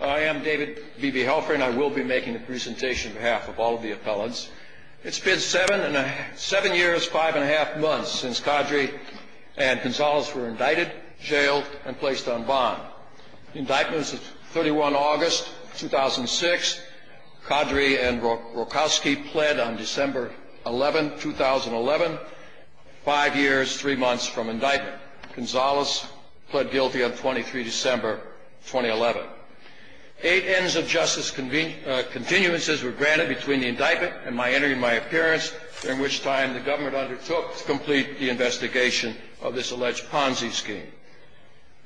I am David B. B. Helfring. I will be making a presentation on behalf of all of the appellants. It's been seven years, five and a half months since Qadri and Gonzales were indicted, jailed, and placed on bond. The indictment is 31 August 2006. Qadri and Rokoski pled on December 11, 2011, five years, three months from indictment. Gonzales pled guilty on 23 December, 2011. Eight ends of justice continuances were granted between the indictment and my entry and my appearance, during which time the government undertook to complete the investigation of this alleged Ponzi scheme.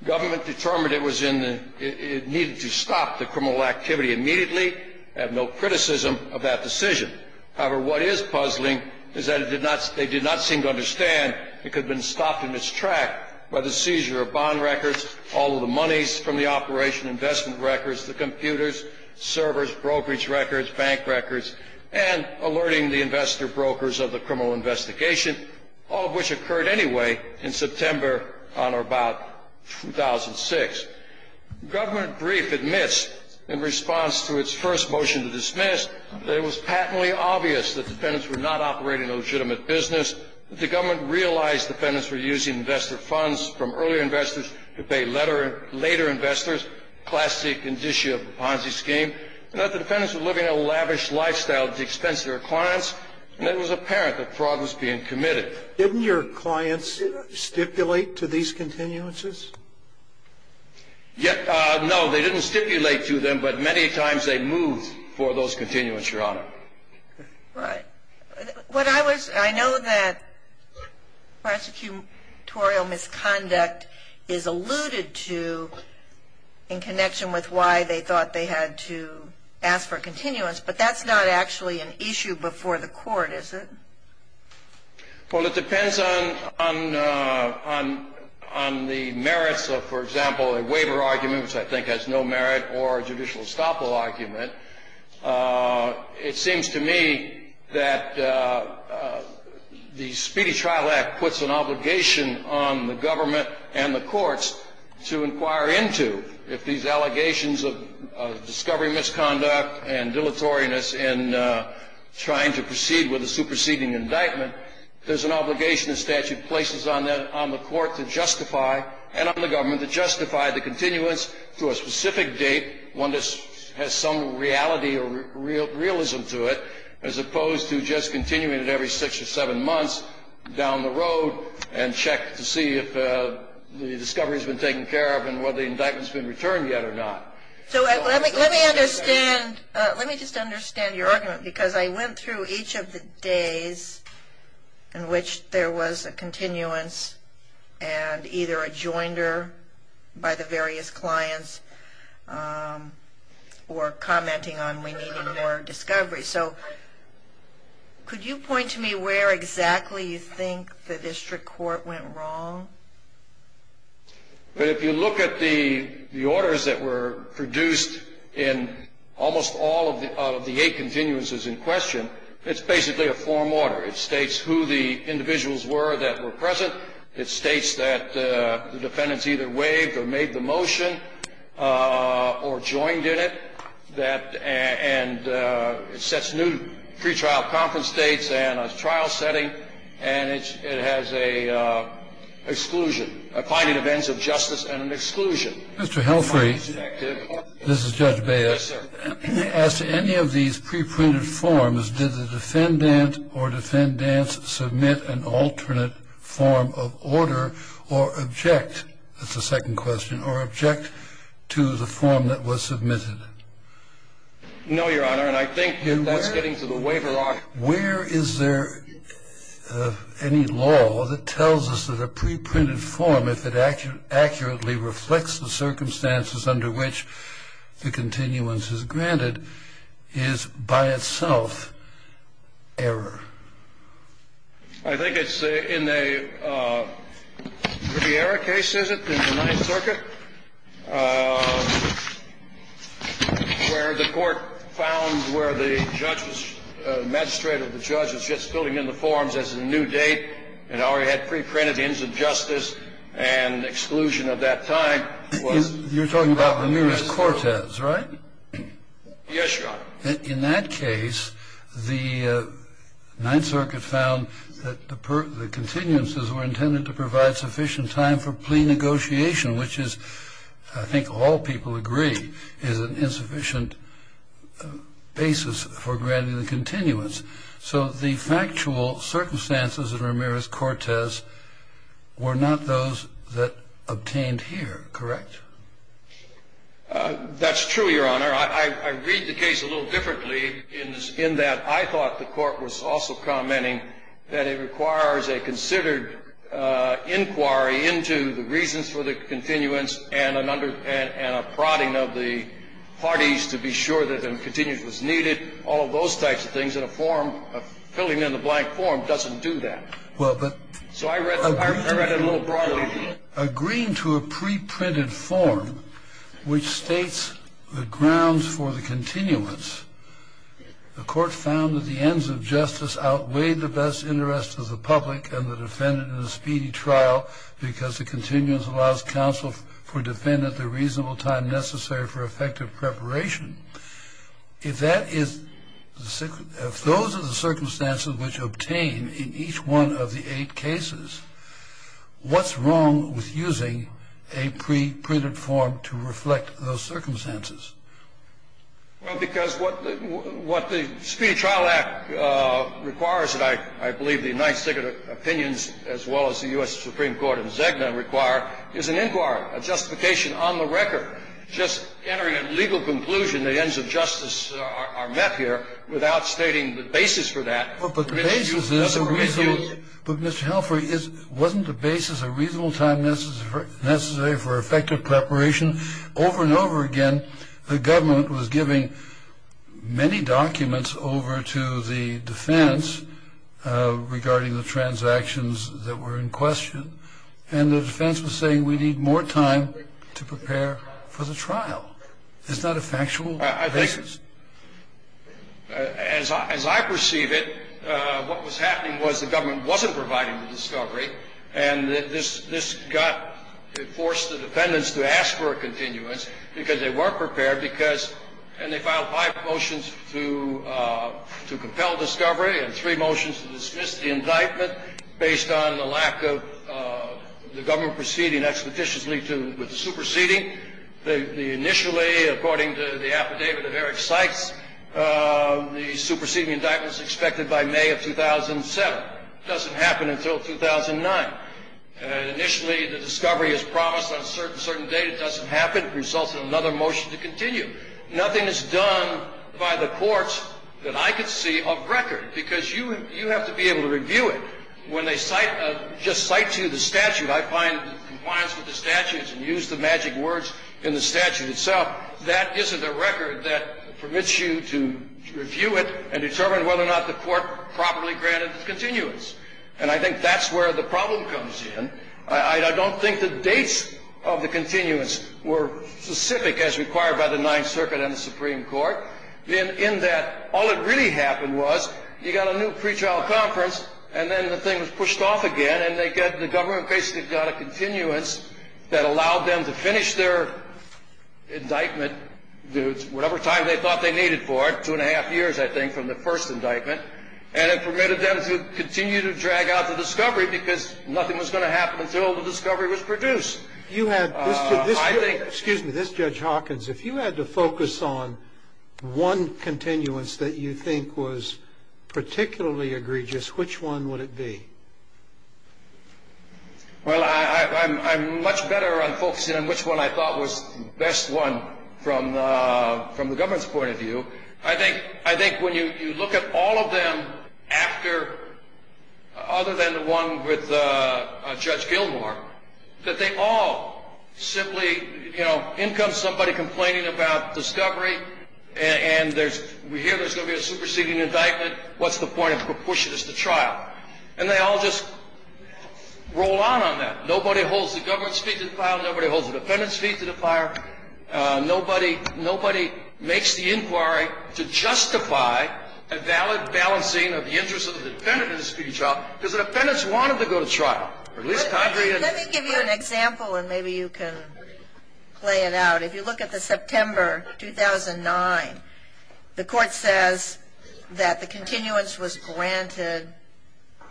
The government determined it needed to stop the criminal activity immediately. They have no criticism of that decision. However, what is puzzling is that they did not seem to understand it could have been stopped in its track by the seizure of bond records, all of the monies from the operation, investment records, the computers, servers, brokerage records, bank records, and alerting the investor brokers of the criminal investigation, all of which occurred anyway in September on or about 2006. The government brief admits in response to its first motion to dismiss that it was patently obvious that defendants were not operating a legitimate business, that the government realized defendants were using investor funds from earlier investors to pay later investors, class C condition of the Ponzi scheme, and that the defendants were living a lavish lifestyle at the expense of their clients, and it was apparent that fraud was being committed. Didn't your clients stipulate to these continuances? No, they didn't stipulate to them, but many times they moved for those continuances, Your Honor. Right. I know that prosecutorial misconduct is alluded to in connection with why they thought they had to ask for continuance, but that's not actually an issue before the court, is it? Well, it depends on the merits of, for example, a waiver argument, which I think has no merit, or a judicial estoppel argument. It seems to me that the Speedy Trial Act puts an obligation on the government and the courts to inquire into if these allegations of discovery misconduct and dilatoriness in trying to proceed with a superseding indictment, there's an obligation the statute places on the court to justify, and on the government, to justify the continuance to a specific date, one that has some reality or realism to it, as opposed to just continuing it every six or seven months down the road and check to see if the discovery's been taken care of and whether the indictment's been returned yet or not. So let me understand, let me just understand your argument, because I went through each of the days in which there was a continuance, and either a joinder by the various clients, or commenting on we needed more discovery. So could you point to me where exactly you think the district court went wrong? Well, if you look at the orders that were produced in almost all of the eight continuances in question, it's basically a form order. It states who the individuals were that were present. It states that the defendants either waived or made the motion or joined in it, and it sets new pre-trial conference dates and a trial setting, and it has a finding of ends of justice and an exclusion. Mr. Helfry, this is Judge Baez. As to any of these pre-printed forms, did the defendant or defendants submit an alternate form of order or object, that's the second question, or object to the form that was submitted? No, Your Honor, and I think that's getting to the waiver law. Where is there any law that tells us that a pre-printed form, if it accurately reflects the circumstances under which the continuance is granted, is by itself error? I think it's in a pretty error case, is it, in the Ninth Circuit, where the court found where the judge was, the magistrate or the judge was just filling in the forms as a new date and already had pre-printed ends of justice and exclusion at that time. You're talking about Ramirez-Cortez, right? Yes, Your Honor. In that case, the Ninth Circuit found that the continuances were intended to provide sufficient time for plea negotiation, which is, I think all people agree, is an insufficient basis for granting the continuance. So the factual circumstances of Ramirez-Cortez were not those that obtained here, correct? That's true, Your Honor. I read the case a little differently in that I thought the court was also commenting that it requires a considered inquiry into the reasons for the continuance and a prodding of the parties to be sure that a continuance was needed, all of those types of things, and a form, a filling in the blank form doesn't do that. So I read it a little broadly. Agreeing to a pre-printed form which states the grounds for the continuance, the court found that the ends of justice outweighed the best interest of the public and the defendant in a speedy trial because the continuance allows counsel for defendant the reasonable time necessary for effective preparation. If those are the circumstances which are obtained in each one of the eight cases, what's wrong with using a pre-printed form to reflect those circumstances? Well, because what the Speedy Trial Act requires, and I believe the United States opinions as well as the U.S. Supreme Court and Zegna require, is an inquiry, a justification on the record, just entering a legal conclusion the ends of justice are met here without stating the basis for that. But the basis is a reasonable, but Mr. Halford, wasn't the basis a reasonable time necessary for effective preparation? Over and over again, the government was giving many documents over to the defense regarding the transactions that were in question, and the defense was saying we need more time to prepare for the trial. It's not a factual basis. As I perceive it, what was happening was the government wasn't providing the discovery, and this got, it forced the defendants to ask for a continuance because they weren't prepared because, and they filed five motions to compel discovery and three motions to dismiss the indictment based on the lack of the government proceeding expeditiously with the superseding. Initially, according to the affidavit of Eric Sykes, the superseding indictment is expected by May of 2007. It doesn't happen until 2009. Initially, the discovery is promised on a certain date. It doesn't happen. It results in another motion to continue. Nothing is done by the courts that I could see of record because you have to be able to review it. When they cite, just cite to you the statute, I find compliance with the statutes and use the magic words in the statute itself, that isn't a record that permits you to review it and determine whether or not the court properly granted the continuance. And I think that's where the problem comes in. I don't think the dates of the continuance were specific as required by the Ninth Circuit and the Supreme Court in that all that really happened was you got a new pretrial conference and then the thing was pushed off again and the government basically got a continuance that allowed them to finish their indictment, whatever time they thought they needed for it, two and a half years, I think, from the first indictment, and it permitted them to continue to drag out the discovery because nothing was going to happen until the discovery was produced. You had this, excuse me, this, Judge Hawkins, if you had to focus on one continuance that you think was particularly egregious, which one would it be? Well, I'm much better on focusing on which one I thought was the best one from the government's point of view. I think when you look at all of them after, other than the one with Judge Gilmore, that they all simply, you know, in comes somebody complaining about discovery and we hear there's going to be a superseding indictment, what's the point of pushing this to trial? And they all just roll on on that. Nobody holds the government's feet to the fire. Nobody holds the defendant's feet to the fire. Nobody makes the inquiry to justify a valid balancing of the interest of the defendant in the speeding trial because the defendants wanted to go to trial. Let me give you an example and maybe you can play it out. If you look at the September 2009, the court says that the continuance was granted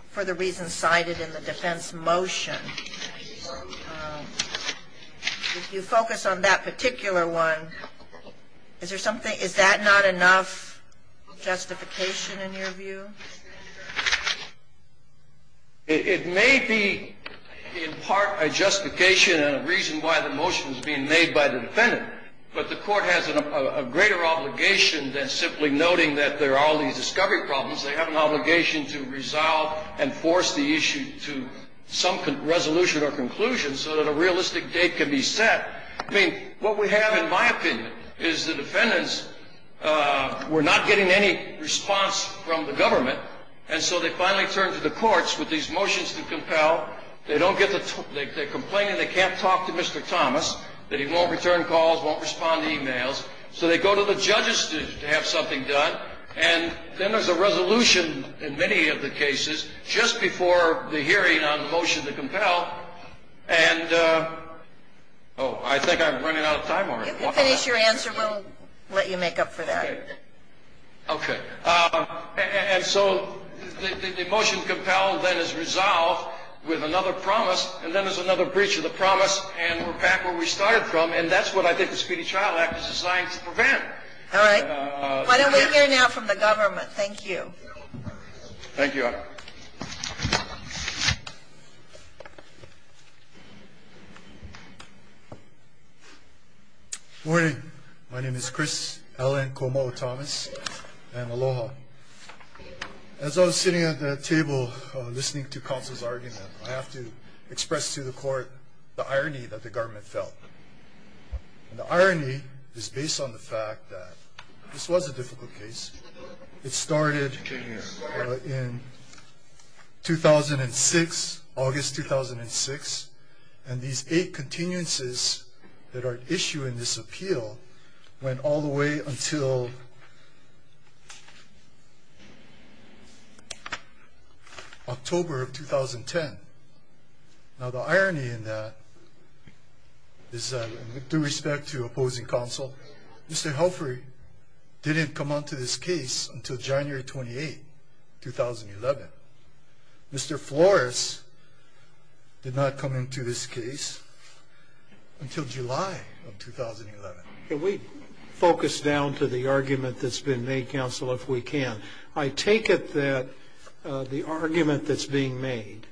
for the reasons cited in the defense motion. If you focus on that particular one, is there something, is that not enough justification in your view? It may be in part a justification and a reason why the motion was being made by the defendant, but the court has a greater obligation than simply noting that there are all these discovery problems. They have an obligation to resolve and force the issue to some resolution or conclusion so that a realistic date can be set. I mean, what we have in my opinion is the defendants were not getting any response from the government and so they finally turned to the courts with these motions to compel. They don't get the, they're complaining they can't talk to Mr. Thomas, that he won't return calls, won't respond to emails, so they go to the judges to have something done and then there's a resolution in many of the cases just before the hearing on the motion to compel and, oh, I think I'm running out of time. You can finish your answer. We'll let you make up for that. Okay. Okay. And so the motion to compel then is resolved with another promise and then there's another breach of the promise and we're back where we started from and that's what I think the Speedy Trial Act is designed to prevent. All right. Why don't we hear now from the government? Thank you. Thank you, Adam. Good morning. My name is Chris Alan Komou Thomas and aloha. As I was sitting at the table listening to counsel's argument, I have to express to the court the irony that the government felt. And the irony is based on the fact that this was a difficult case. It started in 2006, August 2006, and these eight continuances that are issued in this appeal went all the way until October of 2010. Now the irony in that is that with due respect to opposing counsel, Mr. Helfry didn't come onto this case until January 28, 2011. Mr. Flores did not come into this case until July of 2011. Can we focus down to the argument that's been made, counsel, if we can? I take it that the argument that's being made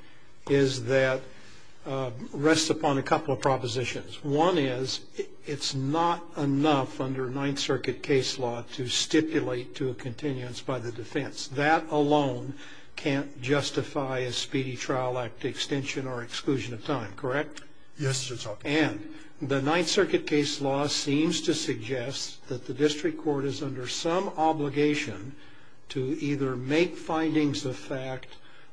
is that rests upon a couple of propositions. One is it's not enough under Ninth Circuit case law to stipulate to a continuance by the defense. That alone can't justify a Speedy Trial Act extension or exclusion of time, correct? Yes, it's okay. And the Ninth Circuit case law seems to suggest that the district court is under some obligation to either make findings of fact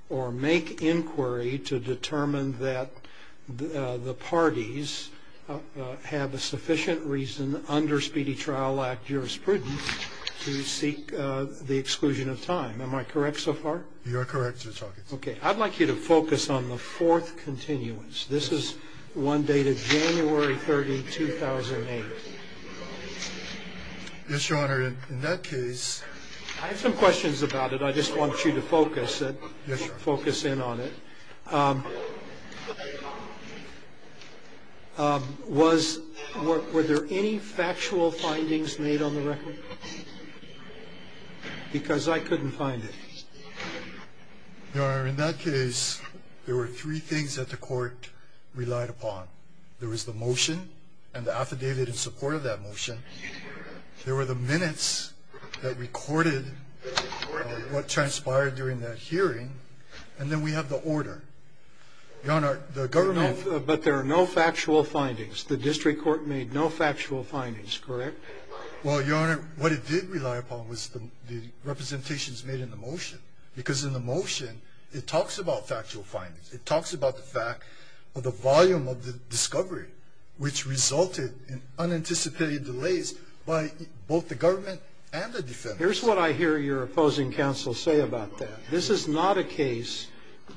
or make inquiry to determine that the parties have a sufficient reason under Speedy Trial Act jurisprudence to seek the exclusion of time. Am I correct so far? You are correct, Judge Hawkins. Okay. I'd like you to focus on the fourth continuance. This is one dated January 30, 2008. Yes, Your Honor. In that case... I have some questions about it. I just want you to focus in on it. Were there any factual findings made on the record? Because I couldn't find it. Your Honor, in that case, there were three things that the court relied upon. There was the motion and the affidavit in support of that motion. There were the minutes that recorded what transpired during that hearing. And then we have the order. Your Honor, the government... But there are no factual findings. The district court made no factual findings, correct? Well, Your Honor, what it did rely upon was the representations made in the motion. Because in the motion, it talks about factual findings. It talks about the fact of the volume of the discovery, which resulted in unanticipated delays by both the government and the defense. Here's what I hear your opposing counsel say about that. This is not a case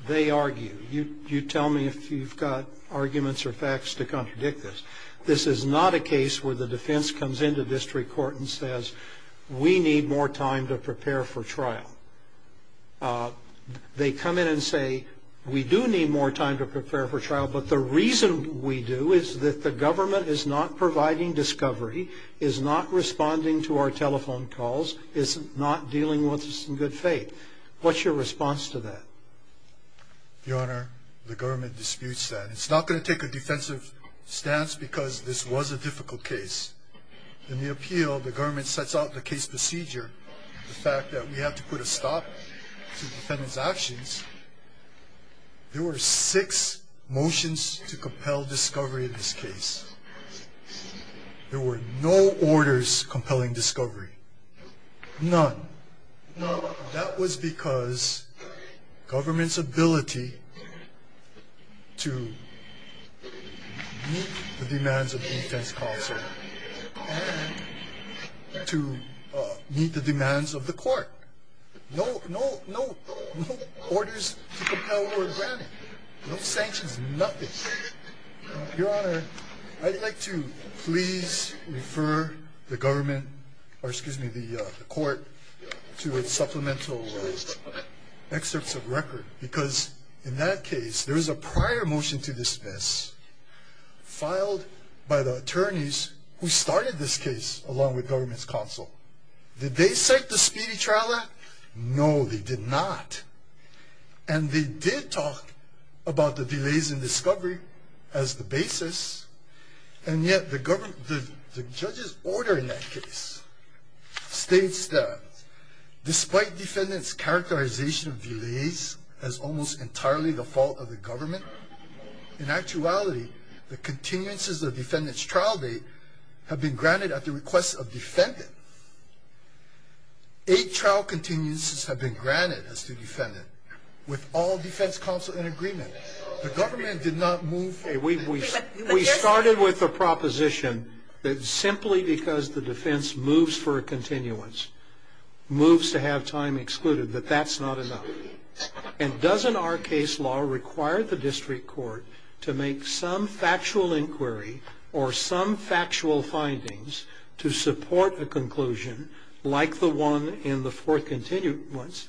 they argue. You tell me if you've got arguments or facts to contradict this. This is not a case where the defense comes into district court and says, we need more time to prepare for trial. They come in and say, we do need more time to prepare for trial, but the reason we do is that the government is not providing discovery, is not responding to our telephone calls, is not dealing with us in good faith. What's your response to that? Your Honor, the government disputes that. It's not going to take a defensive stance because this was a difficult case. In the appeal, the government sets out the case procedure, the fact that we have to put a stop to defendant's actions. There were six motions to compel discovery in this case. There were no orders compelling discovery. None. None. That was because government's ability to meet the demands of defense counsel, and to meet the demands of the court. No orders to compel or grant it. No sanctions, nothing. Your Honor, I'd like to please refer the government, or excuse me, the court to its supplemental excerpts of record, filed by the attorneys who started this case along with government's counsel. Did they cite the speedy trial act? No, they did not. And they did talk about the delays in discovery as the basis, and yet the judge's order in that case states that, despite defendant's characterization of delays as almost entirely the fault of the government, in actuality, the continuances of defendant's trial date have been granted at the request of defendant. Eight trial continuances have been granted as to defendant, with all defense counsel in agreement. The government did not move forward. We started with the proposition that simply because the defense moves for a continuance, moves to have time excluded, that that's not enough. And doesn't our case law require the district court to make some factual inquiry or some factual findings to support a conclusion, like the one in the fourth continuance,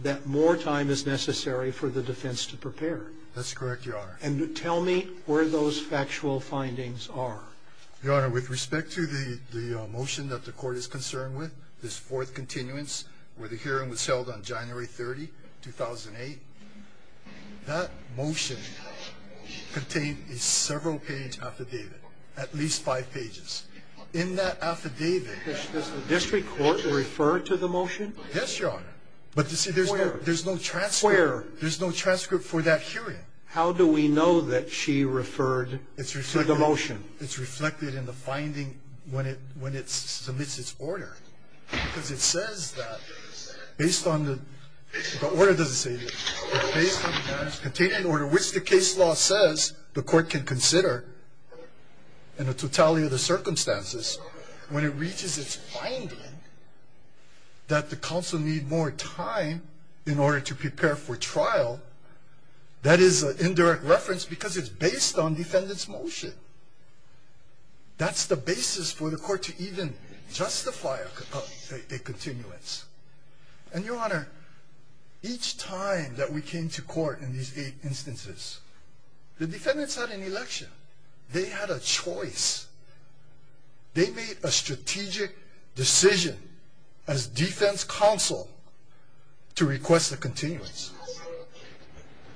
that more time is necessary for the defense to prepare? That's correct, Your Honor. And tell me where those factual findings are. Your Honor, with respect to the motion that the court is concerned with, this fourth continuance, where the hearing was held on January 30, 2008, that motion contained a several-page affidavit, at least five pages. In that affidavit— Does the district court refer to the motion? Yes, Your Honor. But, you see, there's no transcript. Where? There's no transcript for that hearing. How do we know that she referred to the motion? It's reflected in the finding when it submits its order. Because it says that, based on the—the order doesn't say that. It's based on the fact that it's contained in order, which the case law says the court can consider in the totality of the circumstances. When it reaches its finding that the counsel need more time in order to prepare for trial, that is an indirect reference because it's based on defendant's motion. That's the basis for the court to even justify a continuance. And, Your Honor, each time that we came to court in these eight instances, the defendants had an election. They had a choice. They made a strategic decision as defense counsel to request a continuance.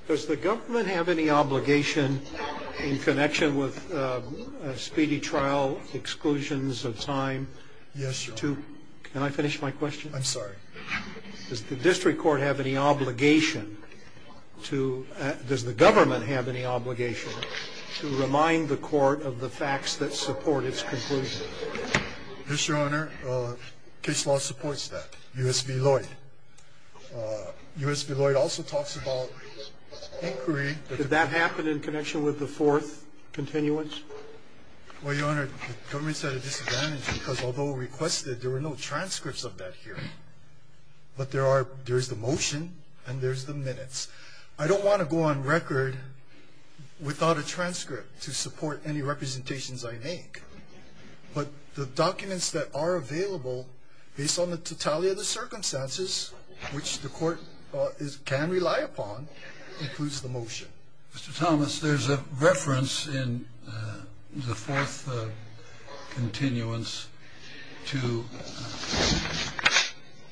Does the government have any obligation in connection with speedy trial exclusions of time to— Yes, Your Honor. Can I finish my question? I'm sorry. Does the district court have any obligation to—does the government have any obligation to remind the court of the facts that support its conclusion? Yes, Your Honor. Case law supports that. U.S. v. Lloyd. U.S. v. Lloyd also talks about inquiry— Did that happen in connection with the fourth continuance? Well, Your Honor, the government's at a disadvantage because although requested, there were no transcripts of that hearing. But there is the motion and there's the minutes. I don't want to go on record without a transcript to support any representations I make. But the documents that are available based on the totality of the circumstances, which the court can rely upon, includes the motion. Mr. Thomas, there's a reference in the fourth continuance to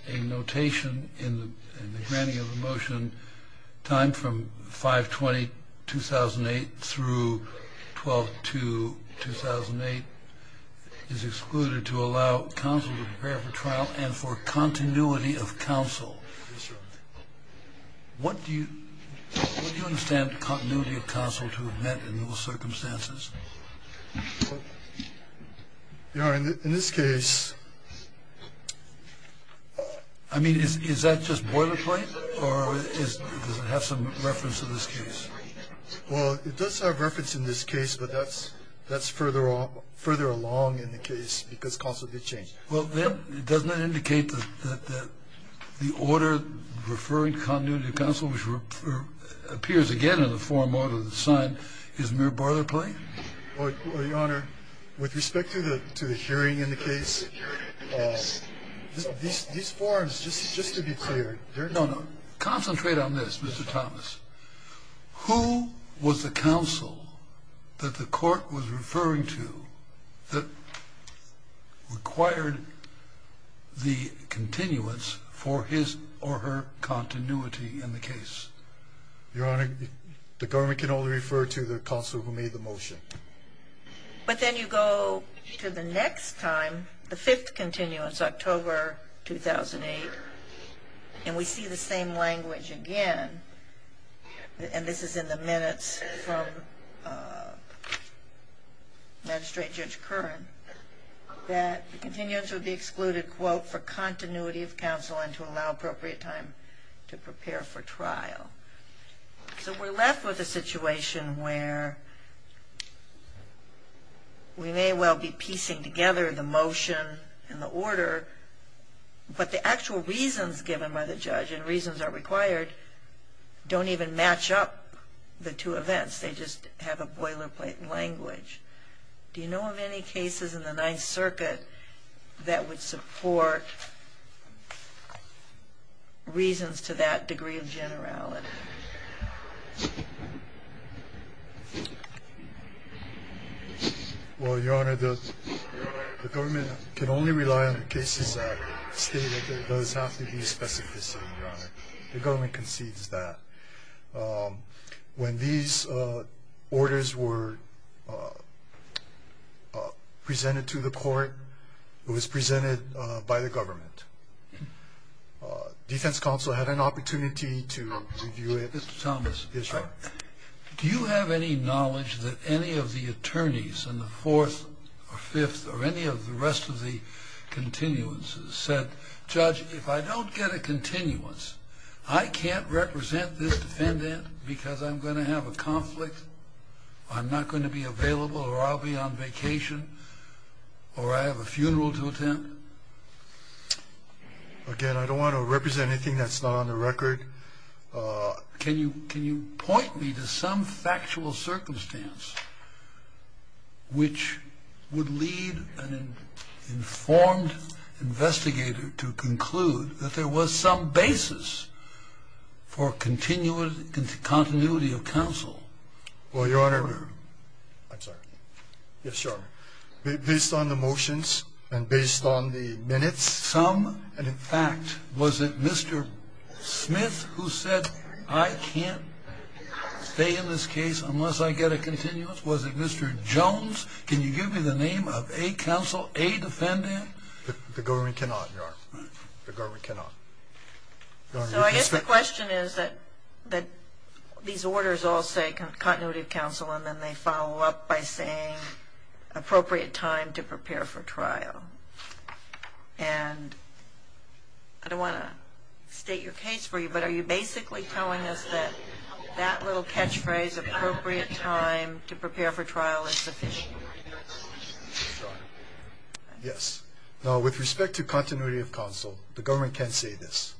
a notation in the granting of the motion time from 5-20-2008 through 12-2-2008 is excluded to allow counsel to prepare for trial and for continuity of counsel. Yes, Your Honor. What do you understand continuity of counsel to have meant in those circumstances? Your Honor, in this case— I mean, is that just boilerplate or does it have some reference in this case? Well, it does have reference in this case, but that's further along in the case because counsel did change it. Well, then, doesn't that indicate that the order referring continuity of counsel, which appears again in the forum order that's signed, is mere boilerplate? Your Honor, with respect to the hearing in the case, these forums, just to be clear— No, no. Concentrate on this, Mr. Thomas. Who was the counsel that the court was referring to that required the continuance for his or her continuity in the case? Your Honor, the government can only refer to the counsel who made the motion. But then you go to the next time, the fifth continuance, October 2008, and we see the same language again, and this is in the minutes from Magistrate Judge Curran, that continuance would be excluded, quote, for continuity of counsel and to allow appropriate time to prepare for trial. So we're left with a situation where we may well be piecing together the motion and the order, but the actual reasons given by the judge and reasons that are required don't even match up the two events. They just have a boilerplate language. Do you know of any cases in the Ninth Circuit that would support reasons to that degree of generality? Well, Your Honor, the government can only rely on the cases that state that there does have to be specificity, Your Honor. The government concedes that. When these orders were presented to the court, it was presented by the government. Defense counsel had an opportunity to review it. Mr. Thomas. Yes, Your Honor. Do you have any knowledge that any of the attorneys in the fourth or fifth or any of the rest of the continuances said, Judge, if I don't get a continuance, I can't represent this defendant because I'm going to have a conflict, I'm not going to be available, or I'll be on vacation, or I have a funeral to attend? Again, I don't want to represent anything that's not on the record. Can you point me to some factual circumstance which would lead an informed investigator to conclude that there was some basis for continuity of counsel? Well, Your Honor, based on the motions and based on the minutes, was it some, and in fact, was it Mr. Smith who said, I can't stay in this case unless I get a continuance? Was it Mr. Jones? Can you give me the name of a counsel, a defendant? The government cannot, Your Honor. The government cannot. So I guess the question is that these orders all say continuity of counsel, and then they follow up by saying appropriate time to prepare for trial. And I don't want to state your case for you, but are you basically telling us that that little catchphrase, appropriate time to prepare for trial, is sufficient? Yes. Now, with respect to continuity of counsel, the government can say this.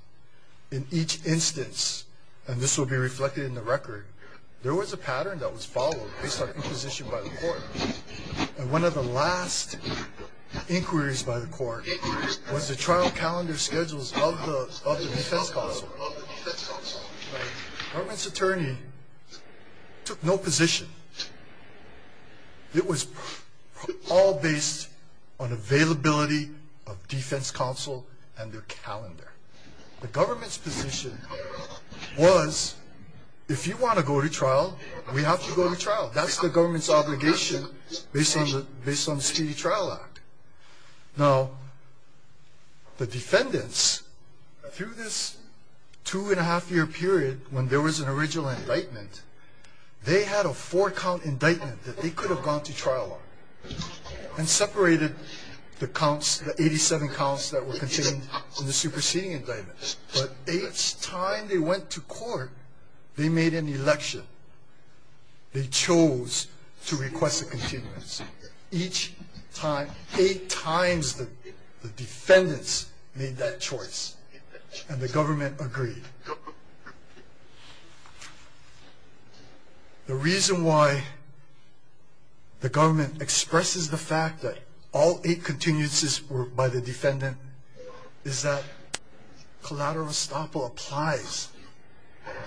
In each instance, and this will be reflected in the record, there was a pattern that was followed based on inquisition by the court. And one of the last inquiries by the court was the trial calendar schedules of the defense counsel. The government's attorney took no position. It was all based on availability of defense counsel and their calendar. The government's position was if you want to go to trial, we have to go to trial. That's the government's obligation based on the Speedy Trial Act. Now, the defendants, through this two-and-a-half-year period when there was an original indictment, they had a four-count indictment that they could have gone to trial on and separated the 87 counts that were contained in the superseding indictment. But each time they went to court, they made an election. They chose to request a continuance. Each time, eight times, the defendants made that choice, and the government agreed. The reason why the government expresses the fact that all eight continuances were by the defendant is that collateral estoppel applies.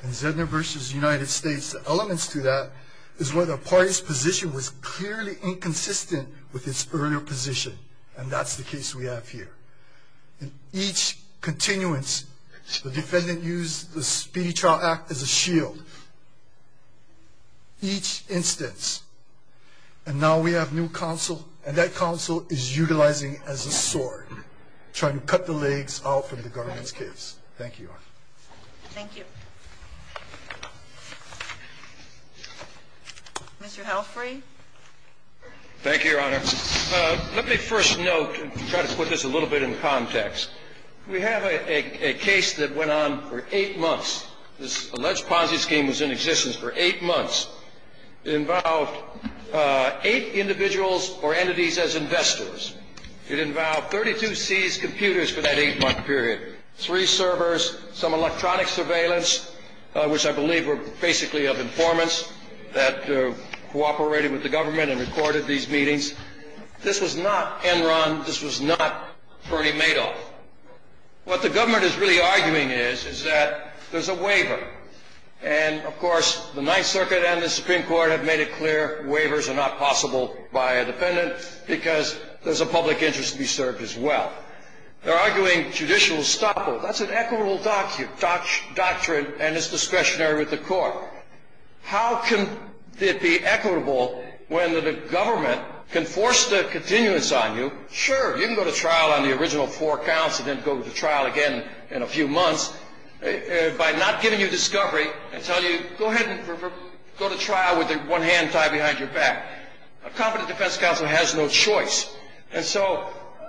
In Zedner v. United States, the elements to that is where the party's position was clearly inconsistent with its earlier position, and that's the case we have here. In each continuance, the defendant used the Speedy Trial Act as a shield, each instance. And now we have new counsel, and that counsel is utilizing it as a sword, trying to cut the legs out from the government's case. Thank you, Your Honor. Thank you. Thank you, Your Honor. Let me first note and try to put this a little bit in context. We have a case that went on for eight months. This alleged Ponzi scheme was in existence for eight months. It involved eight individuals or entities as investors. It involved 32 seized computers for that eight-month period, three servers, some electronic surveillance, which I believe were basically of informants that cooperated with the government and recorded these meetings. This was not Enron. This was not Bernie Madoff. What the government is really arguing is is that there's a waiver. And, of course, the Ninth Circuit and the Supreme Court have made it clear waivers are not possible by a defendant because there's a public interest to be served as well. They're arguing judicial estoppel. That's an equitable doctrine and it's discretionary with the court. How can it be equitable when the government can force the continuance on you? Sure, you can go to trial on the original four counts and then go to trial again in a few months by not giving you discovery and telling you go ahead and go to trial with one hand tied behind your back. A competent defense counsel has no choice. And so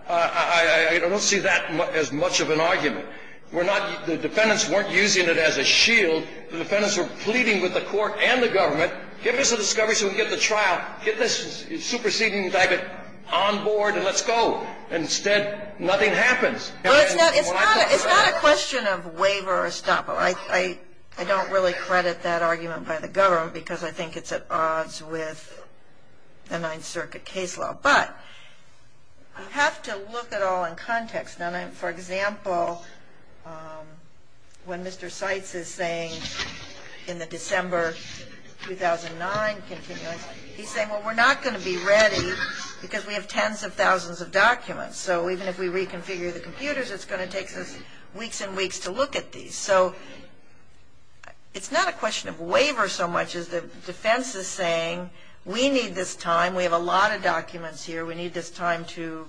I don't see that as much of an argument. The defendants weren't using it as a shield. The defendants were pleading with the court and the government, give us a discovery so we can get to trial. Get this superseding indictment on board and let's go. Instead, nothing happens. It's not a question of waiver or estoppel. I don't really credit that argument by the government because I think it's at odds with the Ninth Circuit case law. But you have to look at all in context. For example, when Mr. Seitz is saying in the December 2009 continuance, he's saying, well, we're not going to be ready because we have tens of thousands of documents. So even if we reconfigure the computers, it's going to take us weeks and weeks to look at these. So it's not a question of waiver so much as the defense is saying we need this time. We have a lot of documents here. We need this time to,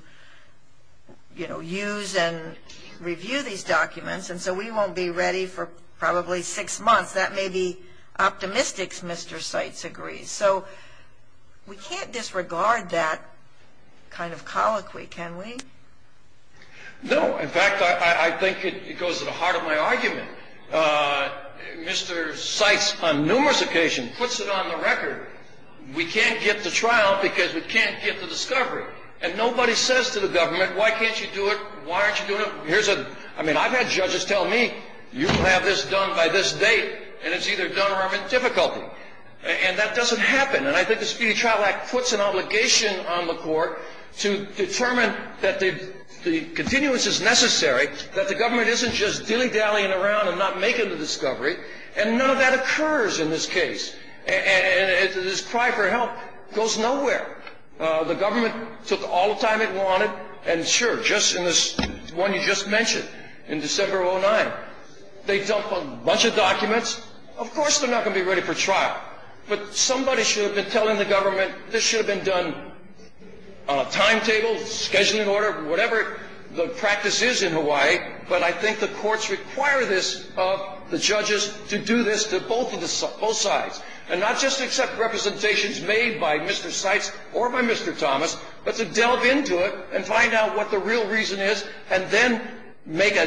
you know, use and review these documents. And so we won't be ready for probably six months. That may be optimistic, Mr. Seitz agrees. So we can't disregard that kind of colloquy, can we? No. In fact, I think it goes to the heart of my argument. Mr. Seitz on numerous occasions puts it on the record. We can't get to trial because we can't get to discovery. And nobody says to the government, why can't you do it? Why aren't you doing it? Here's a ‑‑ I mean, I've had judges tell me, you can have this done by this date, and it's either done or I'm in difficulty. And that doesn't happen. And I think the Speedy Trial Act puts an obligation on the court to determine that the continuance is necessary, that the government isn't just dilly-dallying around and not making the discovery. And none of that occurs in this case. And this cry for help goes nowhere. The government took all the time it wanted, and sure, just in this one you just mentioned, in December of 2009, they dumped a bunch of documents. Of course they're not going to be ready for trial. But somebody should have been telling the government this should have been done on a timetable, scheduled in order, whatever the practice is in Hawaii. But I think the courts require this of the judges to do this to both sides. And not just accept representations made by Mr. Seitz or by Mr. Thomas, but to delve into it and find out what the real reason is, and then make a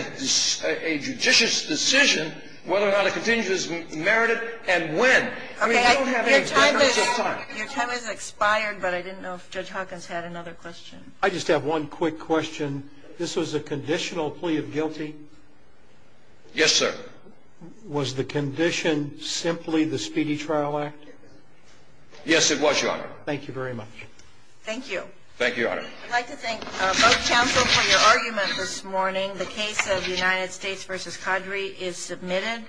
judicious decision whether or not a continuance is merited and when. Okay, your time has expired, but I didn't know if Judge Hawkins had another question. I just have one quick question. This was a conditional plea of guilty? Yes, sir. Was the condition simply the Speedy Trial Act? Yes, it was, Your Honor. Thank you very much. Thank you. Thank you, Your Honor. I'd like to thank both counsel for your argument this morning. The case of United States v. Cadre is submitted.